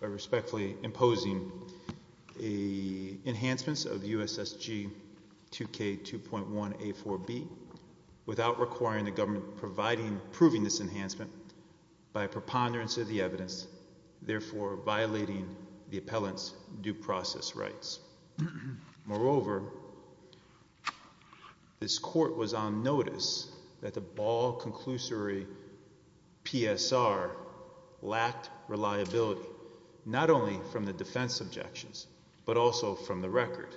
by respectfully imposing enhancements of USSG 2K2.1A4B without requiring the government proving this enhancement by preponderance of the evidence, therefore violating the appellant's due process rights. Moreover, this Court was on notice that the ball conclusory PSR lacked reliability, not only from the defense objections, but also from the record.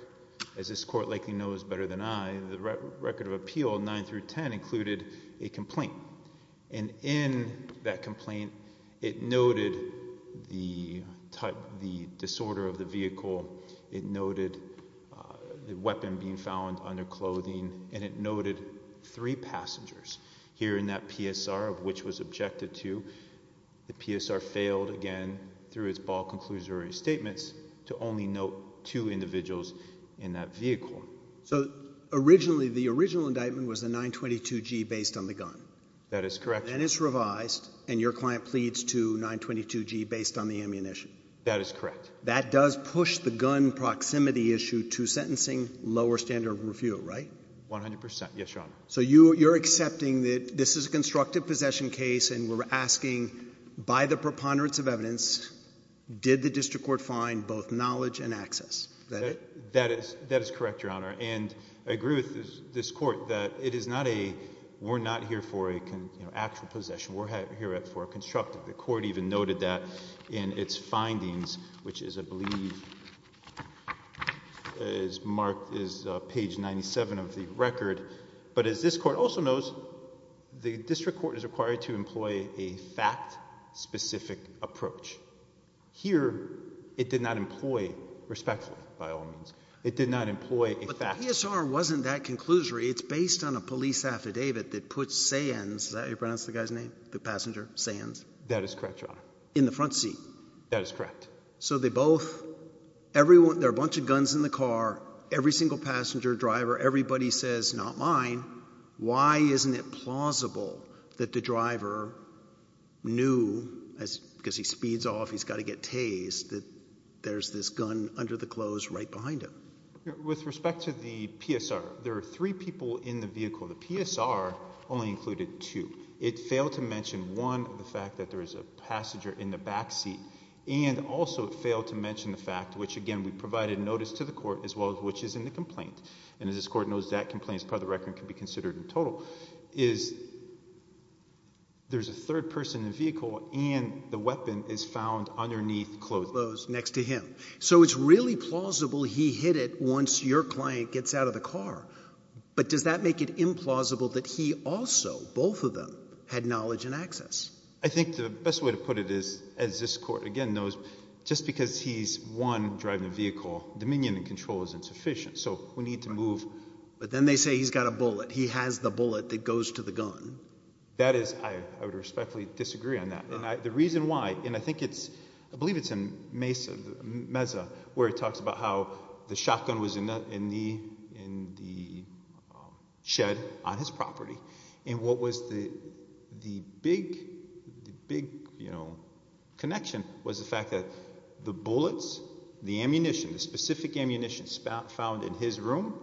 As this Court likely knows better than I, the record of appeal, 9 through 10, included a complaint. And in that complaint, it noted the disorder of the vehicle, it noted the weapon being found on their clothing, and it noted three passengers here in that PSR, of which was objected to. The PSR failed, again, through its ball conclusory statements, to only note two individuals in that vehicle. So the original indictment was the 922G based on the gun? That is correct. And it's revised, and your client pleads to 922G based on the ammunition? That is correct. That does push the gun proximity issue to sentencing lower standard of review, right? 100%. Yes, Your Honor. So you're accepting that this is a constructive possession case, and we're asking, by the preponderance of evidence, did the district court find both knowledge and access? Is that it? That is correct, Your Honor. And I agree with this Court that it is not a, we're not here for an actual possession. We're here for a constructive. The Court even noted that in its findings, which is, I believe, is marked, is page 97 of the record. But as this Court also knows, the district court is required to employ a fact-specific approach. Here, it did not employ, respectfully, by all means, it did not employ a fact. But the PSR wasn't that conclusory. It's based on a police affidavit that puts Sayens, is that how you pronounce the guy's name, the passenger, Sayens? That is correct, Your Honor. In the front seat? That is correct. So they both, everyone, there are a bunch of guns in the car, every single passenger, driver, everybody says, not mine. Why isn't it plausible that the driver knew, because he speeds off, he's got to get tased, that there's this gun under the clothes right behind him? With respect to the PSR, there are three people in the vehicle. The PSR only included two. It failed to mention, one, the fact that there is a passenger in the back seat, and also it failed to mention the fact, which, again, we provided notice to the Court, as well as which is in the complaint. And as this Court knows, that complaint is part of the record and can be considered in total, is there's a third person in the vehicle and the weapon is found underneath clothes next to him. So it's really plausible he hit it once your client gets out of the car. But does that make it implausible that he also, both of them, had knowledge and access? I think the best way to put it is, as this Court, again, knows, just because he's, one, driving a vehicle, dominion and control is insufficient, so we need to move. But then they say he's got a bullet. He has the bullet that goes to the gun. That is, I would respectfully disagree on that. The reason why, and I think it's, I believe it's in Mesa, where it talks about how the shotgun was in the shed on his property, and what was the big connection was the fact that the bullets, the ammunition, the specific ammunition found in his room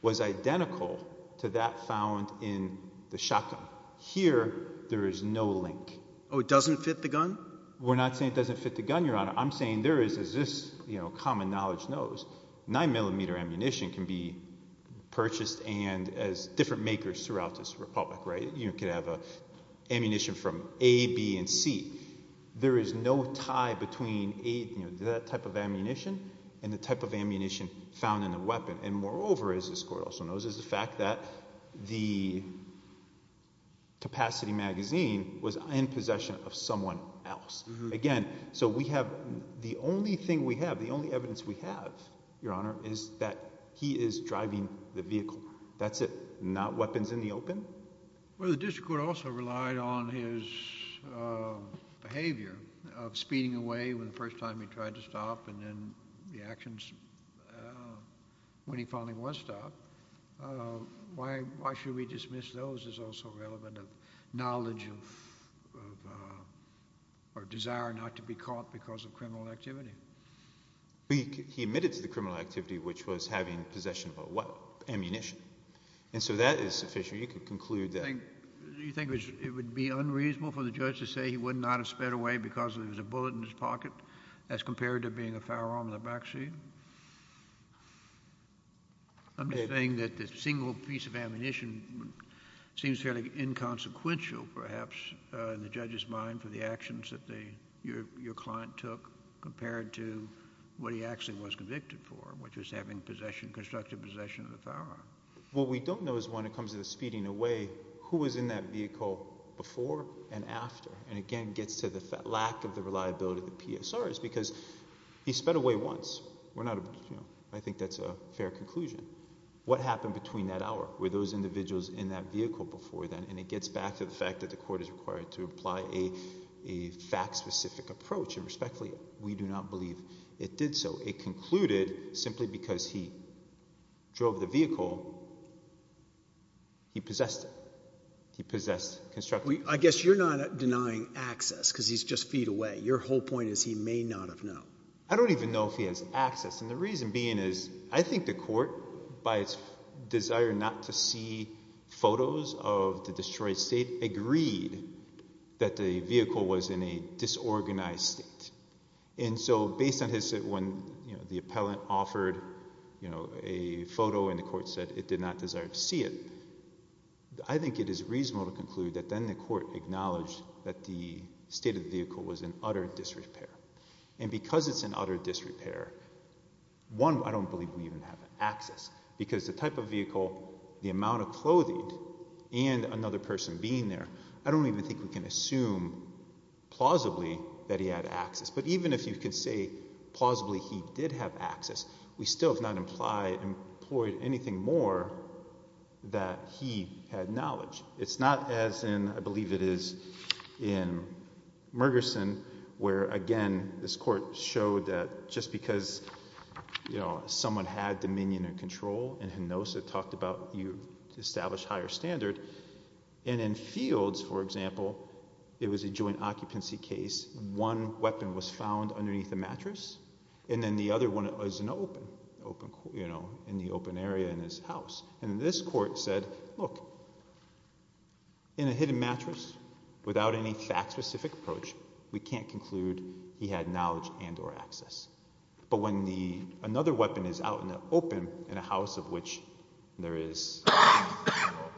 was identical to that found in the shotgun. Here, there is no link. Oh, it doesn't fit the gun? We're not saying it doesn't fit the gun, Your Honor. I'm saying there is, as this common knowledge knows, 9mm ammunition can be purchased and as different makers throughout this republic, right, you can have ammunition from A, B, and C. There is no tie between that type of ammunition and the type of ammunition found in the weapon. And moreover, as this Court also knows, is the fact that the capacity magazine was in possession of someone else. Again, so we have, the only thing we have, the only evidence we have, Your Honor, is that he is driving the vehicle. That's it. Not weapons in the open. Well, the district court also relied on his behavior of speeding away the first time he tried to stop and then the actions when he finally was stopped. Why should we dismiss those is also relevant of knowledge of or desire not to be caught because of criminal activity. He admitted to the criminal activity, which was having possession of ammunition. And so that is sufficient. You can conclude that. Do you think it would be unreasonable for the judge to say he would not have sped away because there was a bullet in his pocket as compared to being a firearm in the backseat? I'm just saying that the single piece of ammunition seems fairly inconsequential, perhaps, in the judge's mind for the actions that your client took compared to what he actually was convicted for, which was having possession, constructive possession of the firearm. What we don't know is when it comes to the speeding away, who was in that vehicle before and after. And again, it gets to the lack of the reliability of the PSRs because he sped away once. I think that's a fair conclusion. What happened between that hour? Were those individuals in that vehicle before then? And it gets back to the fact that the court is required to apply a fact-specific approach. And respectfully, we do not believe it did so. It concluded, simply because he drove the vehicle, he possessed it. He possessed constructive possession. I guess you're not denying access because he's just feet away. Your whole point is he may not have known. I don't even know if he has access. And the reason being is I think the court, by its desire not to see photos of the destroyed state, agreed that the vehicle was in a disorganized state. And so based on when the appellant offered a photo and the court said it did not desire to see it, I think it is reasonable to conclude that then the court acknowledged that the state of the vehicle was in utter disrepair. And because it's in utter disrepair, one, I don't believe we even have access. Because the type of vehicle, the amount of clothing, and another person being there, I don't even think we can assume plausibly that he had access. But even if you could say plausibly he did have access, we still have not employed anything more that he had knowledge. It's not as in, I believe it is in Mergerson, where, again, this court showed that just because, you know, someone had dominion and control, and who knows, it talked about you establish higher standard. And in Fields, for example, it was a joint occupancy case. One weapon was found underneath the mattress, and then the other one was in the open area in his house. And this court said, look, in a hidden mattress, without any fact-specific approach, we can't conclude he had knowledge and or access. But when another weapon is out in the open, in a house of which there is dominion and control,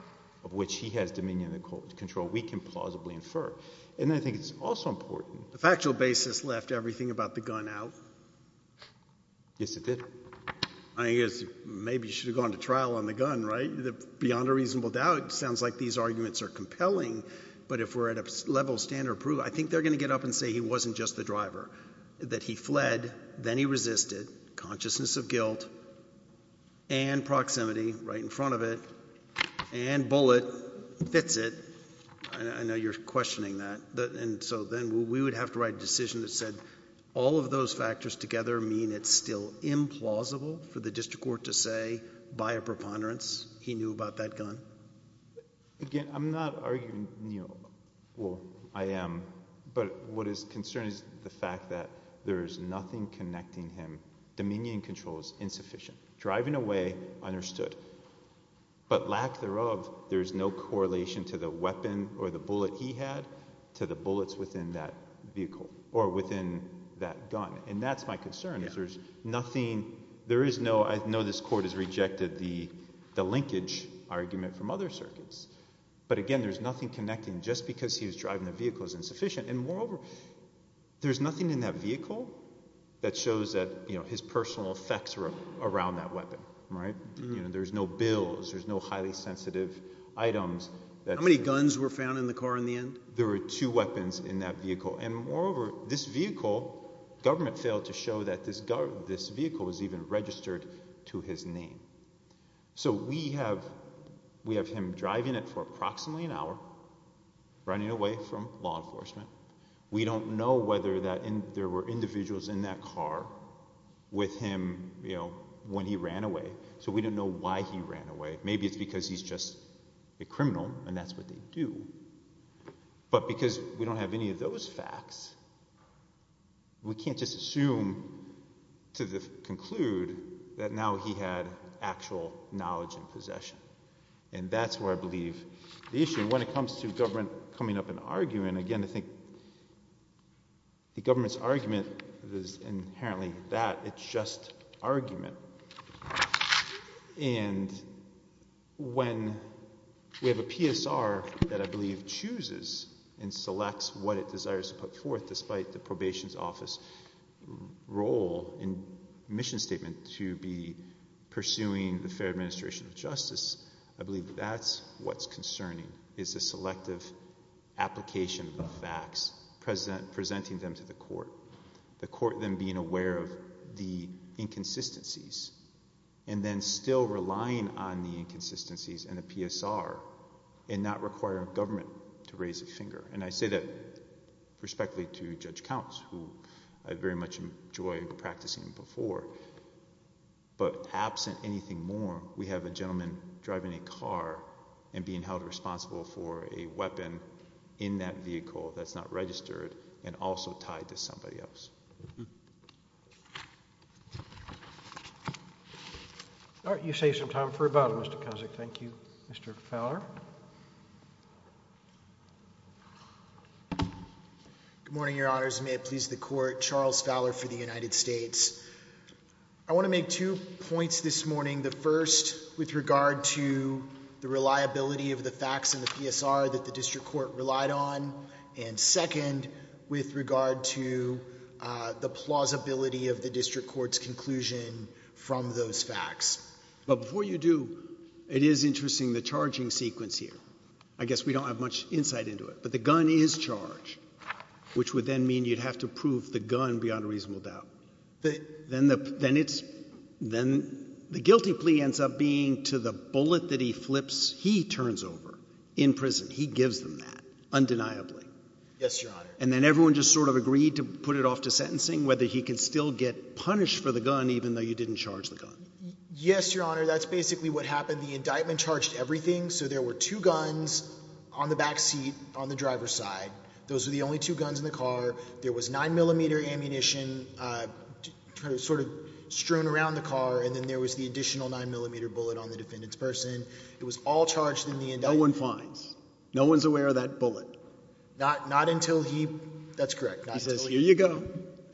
of which he has dominion and control, we can plausibly infer. And I think it's also important... The factual basis left everything about the gun out. Yes, it did. I guess maybe you should have gone to trial on the gun, right? Beyond a reasonable doubt, it sounds like these arguments are compelling, but if we're at a level of standard of proof, I think they're going to get up and say he wasn't just the driver, that he fled, then he resisted, consciousness of guilt, and proximity, right in front of it, and bullet, fits it. I know you're questioning that. And so then we would have to write a decision that said all of those factors together mean it's still implausible for the district court to say, by a preponderance, he knew about that gun. Again, I'm not arguing... Well, I am, but what is concerning is the fact that there is nothing connecting him. Dominion and control is insufficient. Driving away, understood. But lack thereof, there is no correlation to the weapon or the bullet he had to the bullets within that vehicle, or within that gun. And that's my concern, is there's nothing... I know this court has rejected the linkage argument from other circuits, but again, there's nothing connecting. Just because he was driving the vehicle is insufficient. And moreover, there's nothing in that vehicle that shows that his personal effects were around that weapon. There's no bills, there's no highly sensitive items. How many guns were found in the car in the end? There were two weapons in that vehicle. And moreover, this vehicle, government failed to show that this vehicle was even registered to his name. So we have him driving it for approximately an hour, running away from law enforcement. We don't know whether there were individuals in that car with him when he ran away, so we don't know why he ran away. Maybe it's because he's just a criminal, and that's what they do. But because we don't have any of those facts, we can't just assume to conclude that now he had actual knowledge and possession. And that's where I believe the issue... When it comes to government coming up and arguing, again, I think the government's argument is inherently that. It's just argument. And when we have a PSR that I believe chooses and selects what it desires to put forth despite the probation's office role and mission statement to be pursuing the fair administration of justice, I believe that that's what's concerning, is the selective application of facts, presenting them to the court, the court then being aware of the inconsistencies and then still relying on the inconsistencies and the PSR and not requiring government to raise a finger. And I say that respectfully to Judge Counts, who I very much enjoyed practicing before. But absent anything more, we have a gentleman driving a car and being held responsible for a weapon in that vehicle that's not registered and also tied to somebody else. All right, you saved some time for rebuttal, Mr. Kozak. Thank you, Mr. Fowler. Good morning, Your Honors. May it please the Court. Charles Fowler for the United States. I want to make two points this morning, the first with regard to the reliability of the facts and the PSR that the district court relied on and second with regard to the plausibility of the district court's conclusion from those facts. But before you do, it is interesting, the charging sequence here. I guess we don't have much insight into it, but the gun is charged, which would then mean you'd have to prove the gun beyond a reasonable doubt. Then the guilty plea ends up being to the bullet that he flips he turns over in prison. He gives them that undeniably. Yes, Your Honor. And then everyone just sort of agreed to put it off to sentencing, whether he could still get punished for the gun even though you didn't charge the gun. Yes, Your Honor. That's basically what happened. The indictment charged everything. So there were two guns on the back seat on the driver's side. Those were the only two guns in the car. There was 9mm ammunition sort of strewn around the car, and then there was the additional 9mm bullet on the defendant's person. It was all charged in the indictment. No one finds. No one's aware of that bullet. Not until he... That's correct. He says, here you go.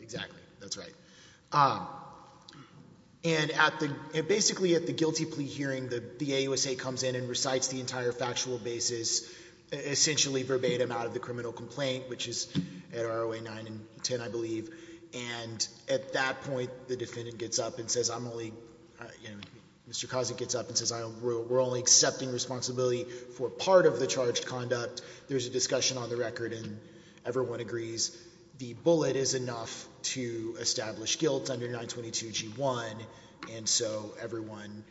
Exactly. That's right. And basically at the guilty plea hearing, the AUSA comes in and recites the entire factual basis, essentially verbatim, out of the criminal complaint, which is at ROA 9 and 10, I believe. And at that point, the defendant gets up and says, I'm only... Mr. Kozak gets up and says, we're only accepting responsibility for part of the charged conduct. There's a discussion on the record, and everyone agrees the bullet is enough to establish guilt under 922G1, and so everyone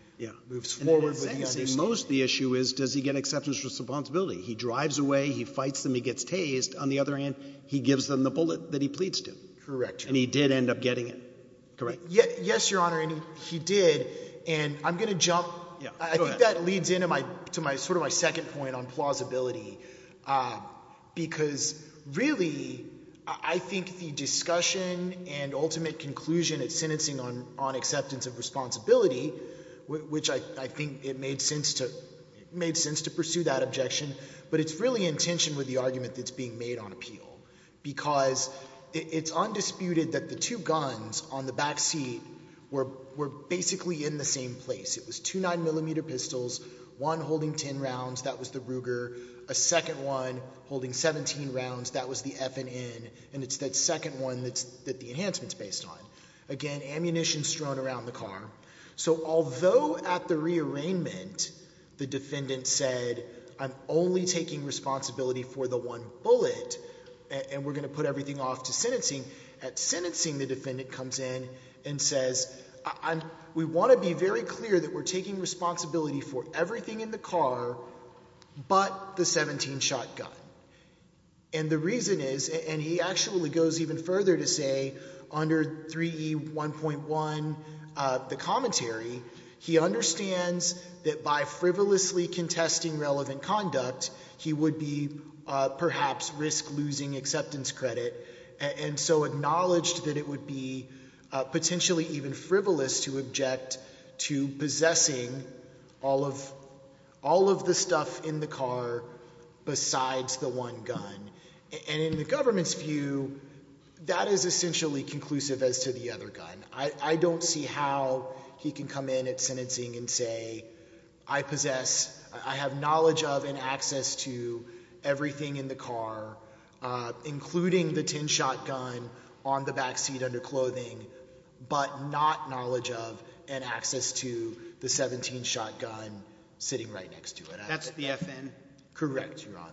moves forward with the understanding. Yeah. Most of the issue is, does he get acceptance for responsibility? He drives away, he fights them, he gets tased. On the other hand, he gives them the bullet that he pleads to. Correct. And he did end up getting it. Correct. Yes, Your Honor, and he did. And I'm going to jump... Yeah, go ahead. I think that leads into sort of my second point on plausibility, because really, I think the discussion and ultimate conclusion at sentencing on acceptance of responsibility, which I think it made sense to pursue that objection, but it's really in tension with the argument that's being made on appeal, because it's undisputed that the two guns on the back seat were basically in the same place. It was two 9mm pistols, one holding 10 rounds, that was the Ruger, a second one holding 17 rounds, that was the FNN, and it's that second one that the enhancement's based on. Again, ammunition strewn around the car. So although at the rearrangement the defendant said, I'm only taking responsibility for the one bullet and we're going to put everything off to sentencing, at sentencing the defendant comes in and says, we want to be very clear that we're taking responsibility for everything in the car but the 17-shot gun. And the reason is, and he actually goes even further to say, under 3E1.1, the commentary, he understands that by frivolously contesting relevant conduct, he would be perhaps risk losing acceptance credit, and so acknowledged that it would be potentially even frivolous to object to possessing all of the stuff in the car besides the one gun. And in the government's view, that is essentially conclusive as to the other gun. I don't see how he can come in at sentencing and say, I possess, I have knowledge of and access to everything in the car, including the 10-shot gun on the back seat under clothing, but not knowledge of and access to the 17-shot gun sitting right next to it. That's the FN? Correct, Your Honour.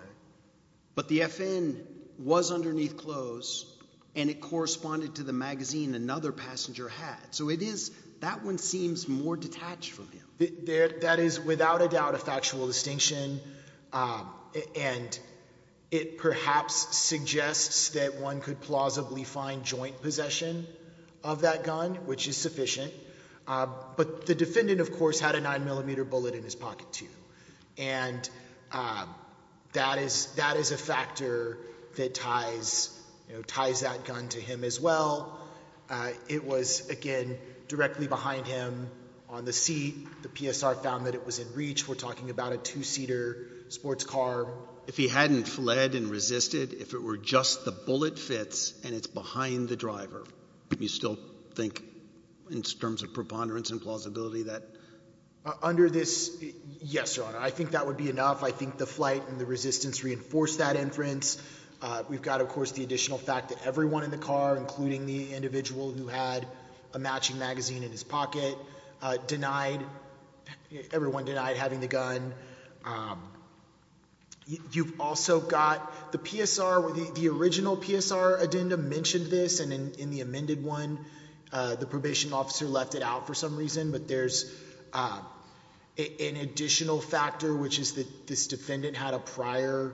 But the FN was underneath clothes and it corresponded to the magazine another passenger had. So it is, that one seems more detached from him. That is without a doubt a factual distinction and it perhaps suggests that one could plausibly find joint possession of that gun, which is sufficient. But the defendant, of course, had a 9mm bullet in his pocket too. And that is a factor that ties that gun to him as well. It was, again, directly behind him on the seat. The PSR found that it was in reach. We're talking about a two-seater sports car. If he hadn't fled and resisted, if it were just the bullet fits and it's behind the driver, do you still think in terms of preponderance and plausibility that? Under this, yes, Your Honour. I think that would be enough. I think the flight and the resistance reinforced that inference. We've got, of course, the additional fact that everyone in the car, including the individual who had a matching magazine in his pocket, denied, everyone denied having the gun. You've also got the PSR, the original PSR addendum mentioned this and in the amended one the probation officer left it out for some reason. But there's an additional factor, which is that this defendant had a prior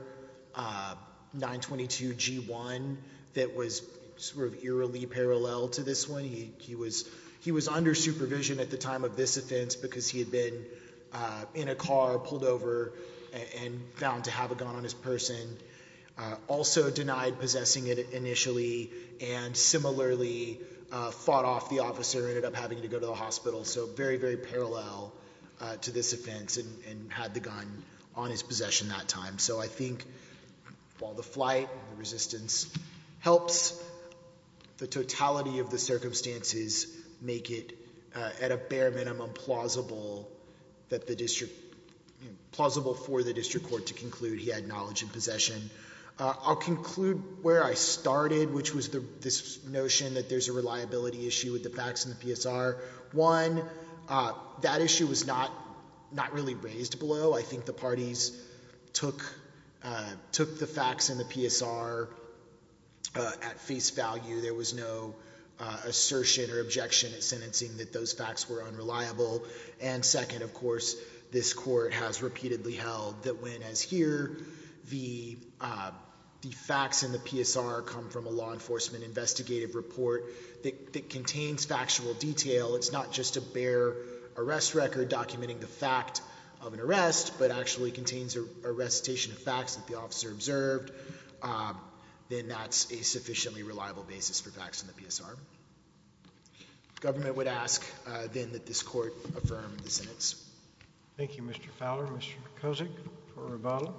922 G1 that was sort of eerily parallel to this one. He was under supervision at the time of this offense because he had been in a car, pulled over, and found to have a gun on his person. Also denied possessing it initially and similarly fought off the officer and ended up having to go to the hospital. So very, very parallel to this offense and had the gun on his possession that time. So I think while the flight and the resistance helps, the totality of the circumstances make it at a bare minimum plausible for the district court to conclude he had knowledge and possession. I'll conclude where I started, which was this notion that there's a reliability issue with the facts and the PSR. One, that issue was not really raised below. I think the parties took the facts and the PSR at face value. There was no assertion or objection at sentencing that those facts were unreliable. And second, of course, this court has repeatedly held that when, as here, the facts and the PSR come from a law enforcement investigative report that contains factual detail, it's not just a bare arrest record documenting the fact of an arrest, but actually contains a recitation of facts that the officer observed, then that's a sufficiently reliable basis for facts and the PSR. The government would ask, then, that this court affirm the sentence. Thank you, Mr. Fowler. Mr. Kozik for Ravala.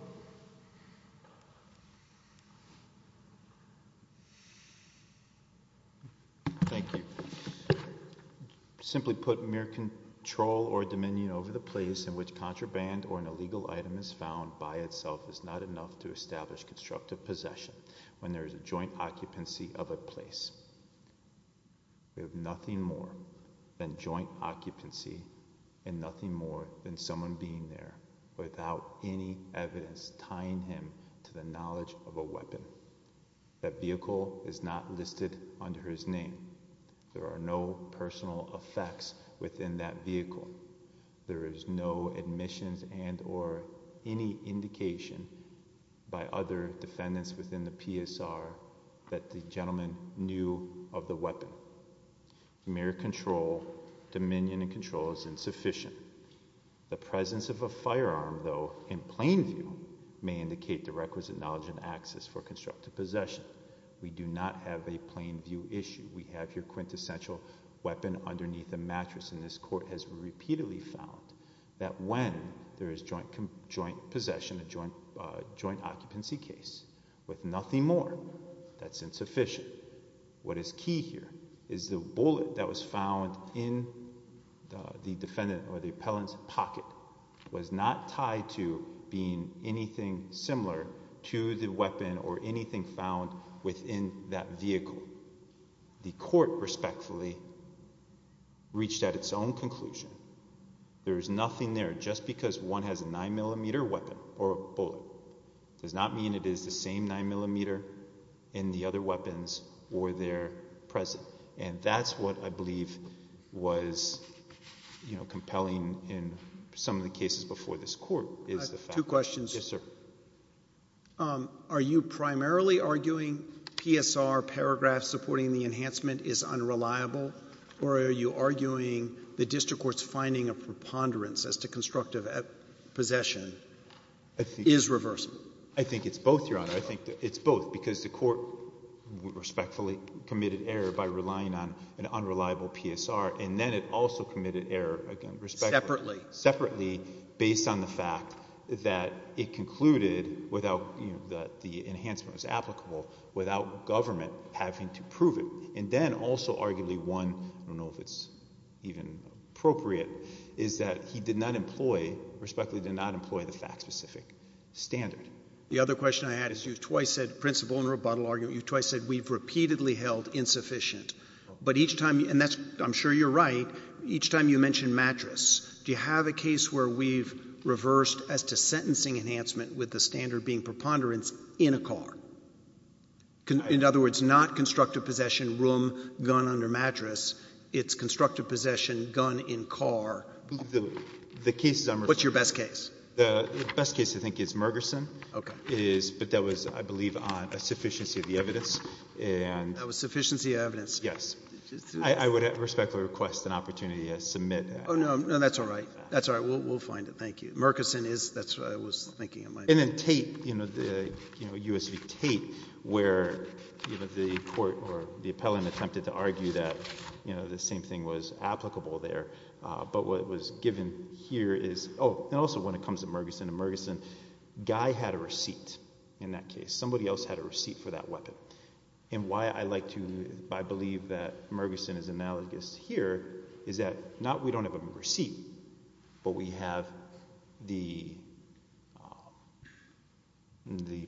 Thank you. Simply put, mere control or dominion over the place in which contraband or an illegal item is found by itself is not enough to establish constructive possession when there is a joint occupancy of a place. We have nothing more than joint occupancy and nothing more than someone being there without any evidence tying him to the knowledge of a weapon. That vehicle is not listed under his name. There are no personal effects within that vehicle. There is no admissions and or any indication by other defendants within the PSR that the gentleman knew of the weapon. Mere control, dominion and control is insufficient. The presence of a firearm, though, in plain view may indicate the requisite knowledge and access for constructive possession. We do not have a plain view issue. We have your quintessential weapon underneath a mattress, and this court has repeatedly found that when there is joint possession, a joint occupancy case, with nothing more, that's insufficient. What is key here is the bullet that was found in the defendant or the appellant's pocket was not tied to being anything similar to the weapon or anything found within that vehicle. The court, respectfully, reached out its own conclusion. There is nothing there. Just because one has a 9mm weapon or a bullet does not mean it is the same 9mm in the other weapons or their present, and that's what I believe was compelling in some of the cases before this court. Two questions. Yes, sir. Are you primarily arguing PSR paragraph supporting the enhancement is unreliable, or are you arguing the district court's finding of preponderance as to constructive possession is reversible? I think it's both, Your Honor. I think it's both, because the court respectfully committed error by relying on an unreliable PSR, and then it also committed error, again, respectfully. Separately. Separately, based on the fact that it concluded that the enhancement was applicable without government having to prove it. And then also arguably one, I don't know if it's even appropriate, is that he did not employ, respectfully, did not employ the fact-specific standard. The other question I had is you twice said principle and rebuttal argument. You twice said we've repeatedly held insufficient, but each time, and I'm sure you're right, each time you mention mattress, do you have a case where we've reversed as to sentencing enhancement with the standard being preponderance in a car? In other words, not constructive possession, room, gun under mattress. It's constructive possession, gun in car. The case is I'm responsible. What's your best case? The best case, I think, is Mergerson. Okay. But that was, I believe, on a sufficiency of the evidence. That was sufficiency of evidence. Yes. I would respectfully request an opportunity to submit. Oh, no. No, that's all right. That's all right. We'll find it. Thank you. Mergerson is, that's what I was thinking. And then Tate, you know, the U.S. v. Tate, where the court or the appellant attempted to argue that, you know, the same thing was applicable there. But what was given here is, oh, and also when it comes to Mergerson, in Mergerson Guy had a receipt in that case. Somebody else had a receipt for that weapon. And why I like to, I believe that Mergerson is analogous here is that not we don't have a receipt, but we have the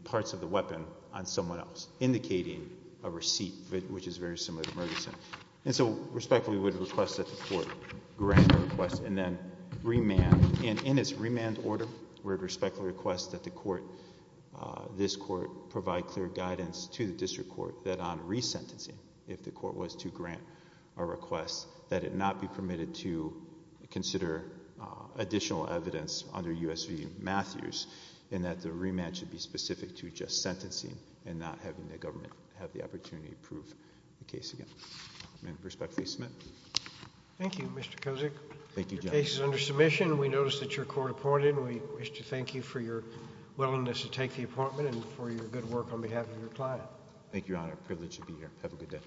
parts of the weapon on someone else, indicating a receipt, which is very similar to Mergerson. And so respectfully we would request that the court grant the request and then remand. And in its remand order, we would respectfully request that the court, this court, provide clear guidance to the district court that on resentencing, if the court was to grant a request, that it not be permitted to consider additional evidence under U.S. v. Matthews, and that the remand should be specific to just sentencing and not having the government have the opportunity to prove the case again. I respectfully submit. Thank you, Mr. Kozik. Your case is under submission. We noticed that your court appointed, and we wish to thank you for your willingness to take the appointment and for your good work on behalf of your client. Thank you, Your Honor. It's my privilege to be here. Have a good day.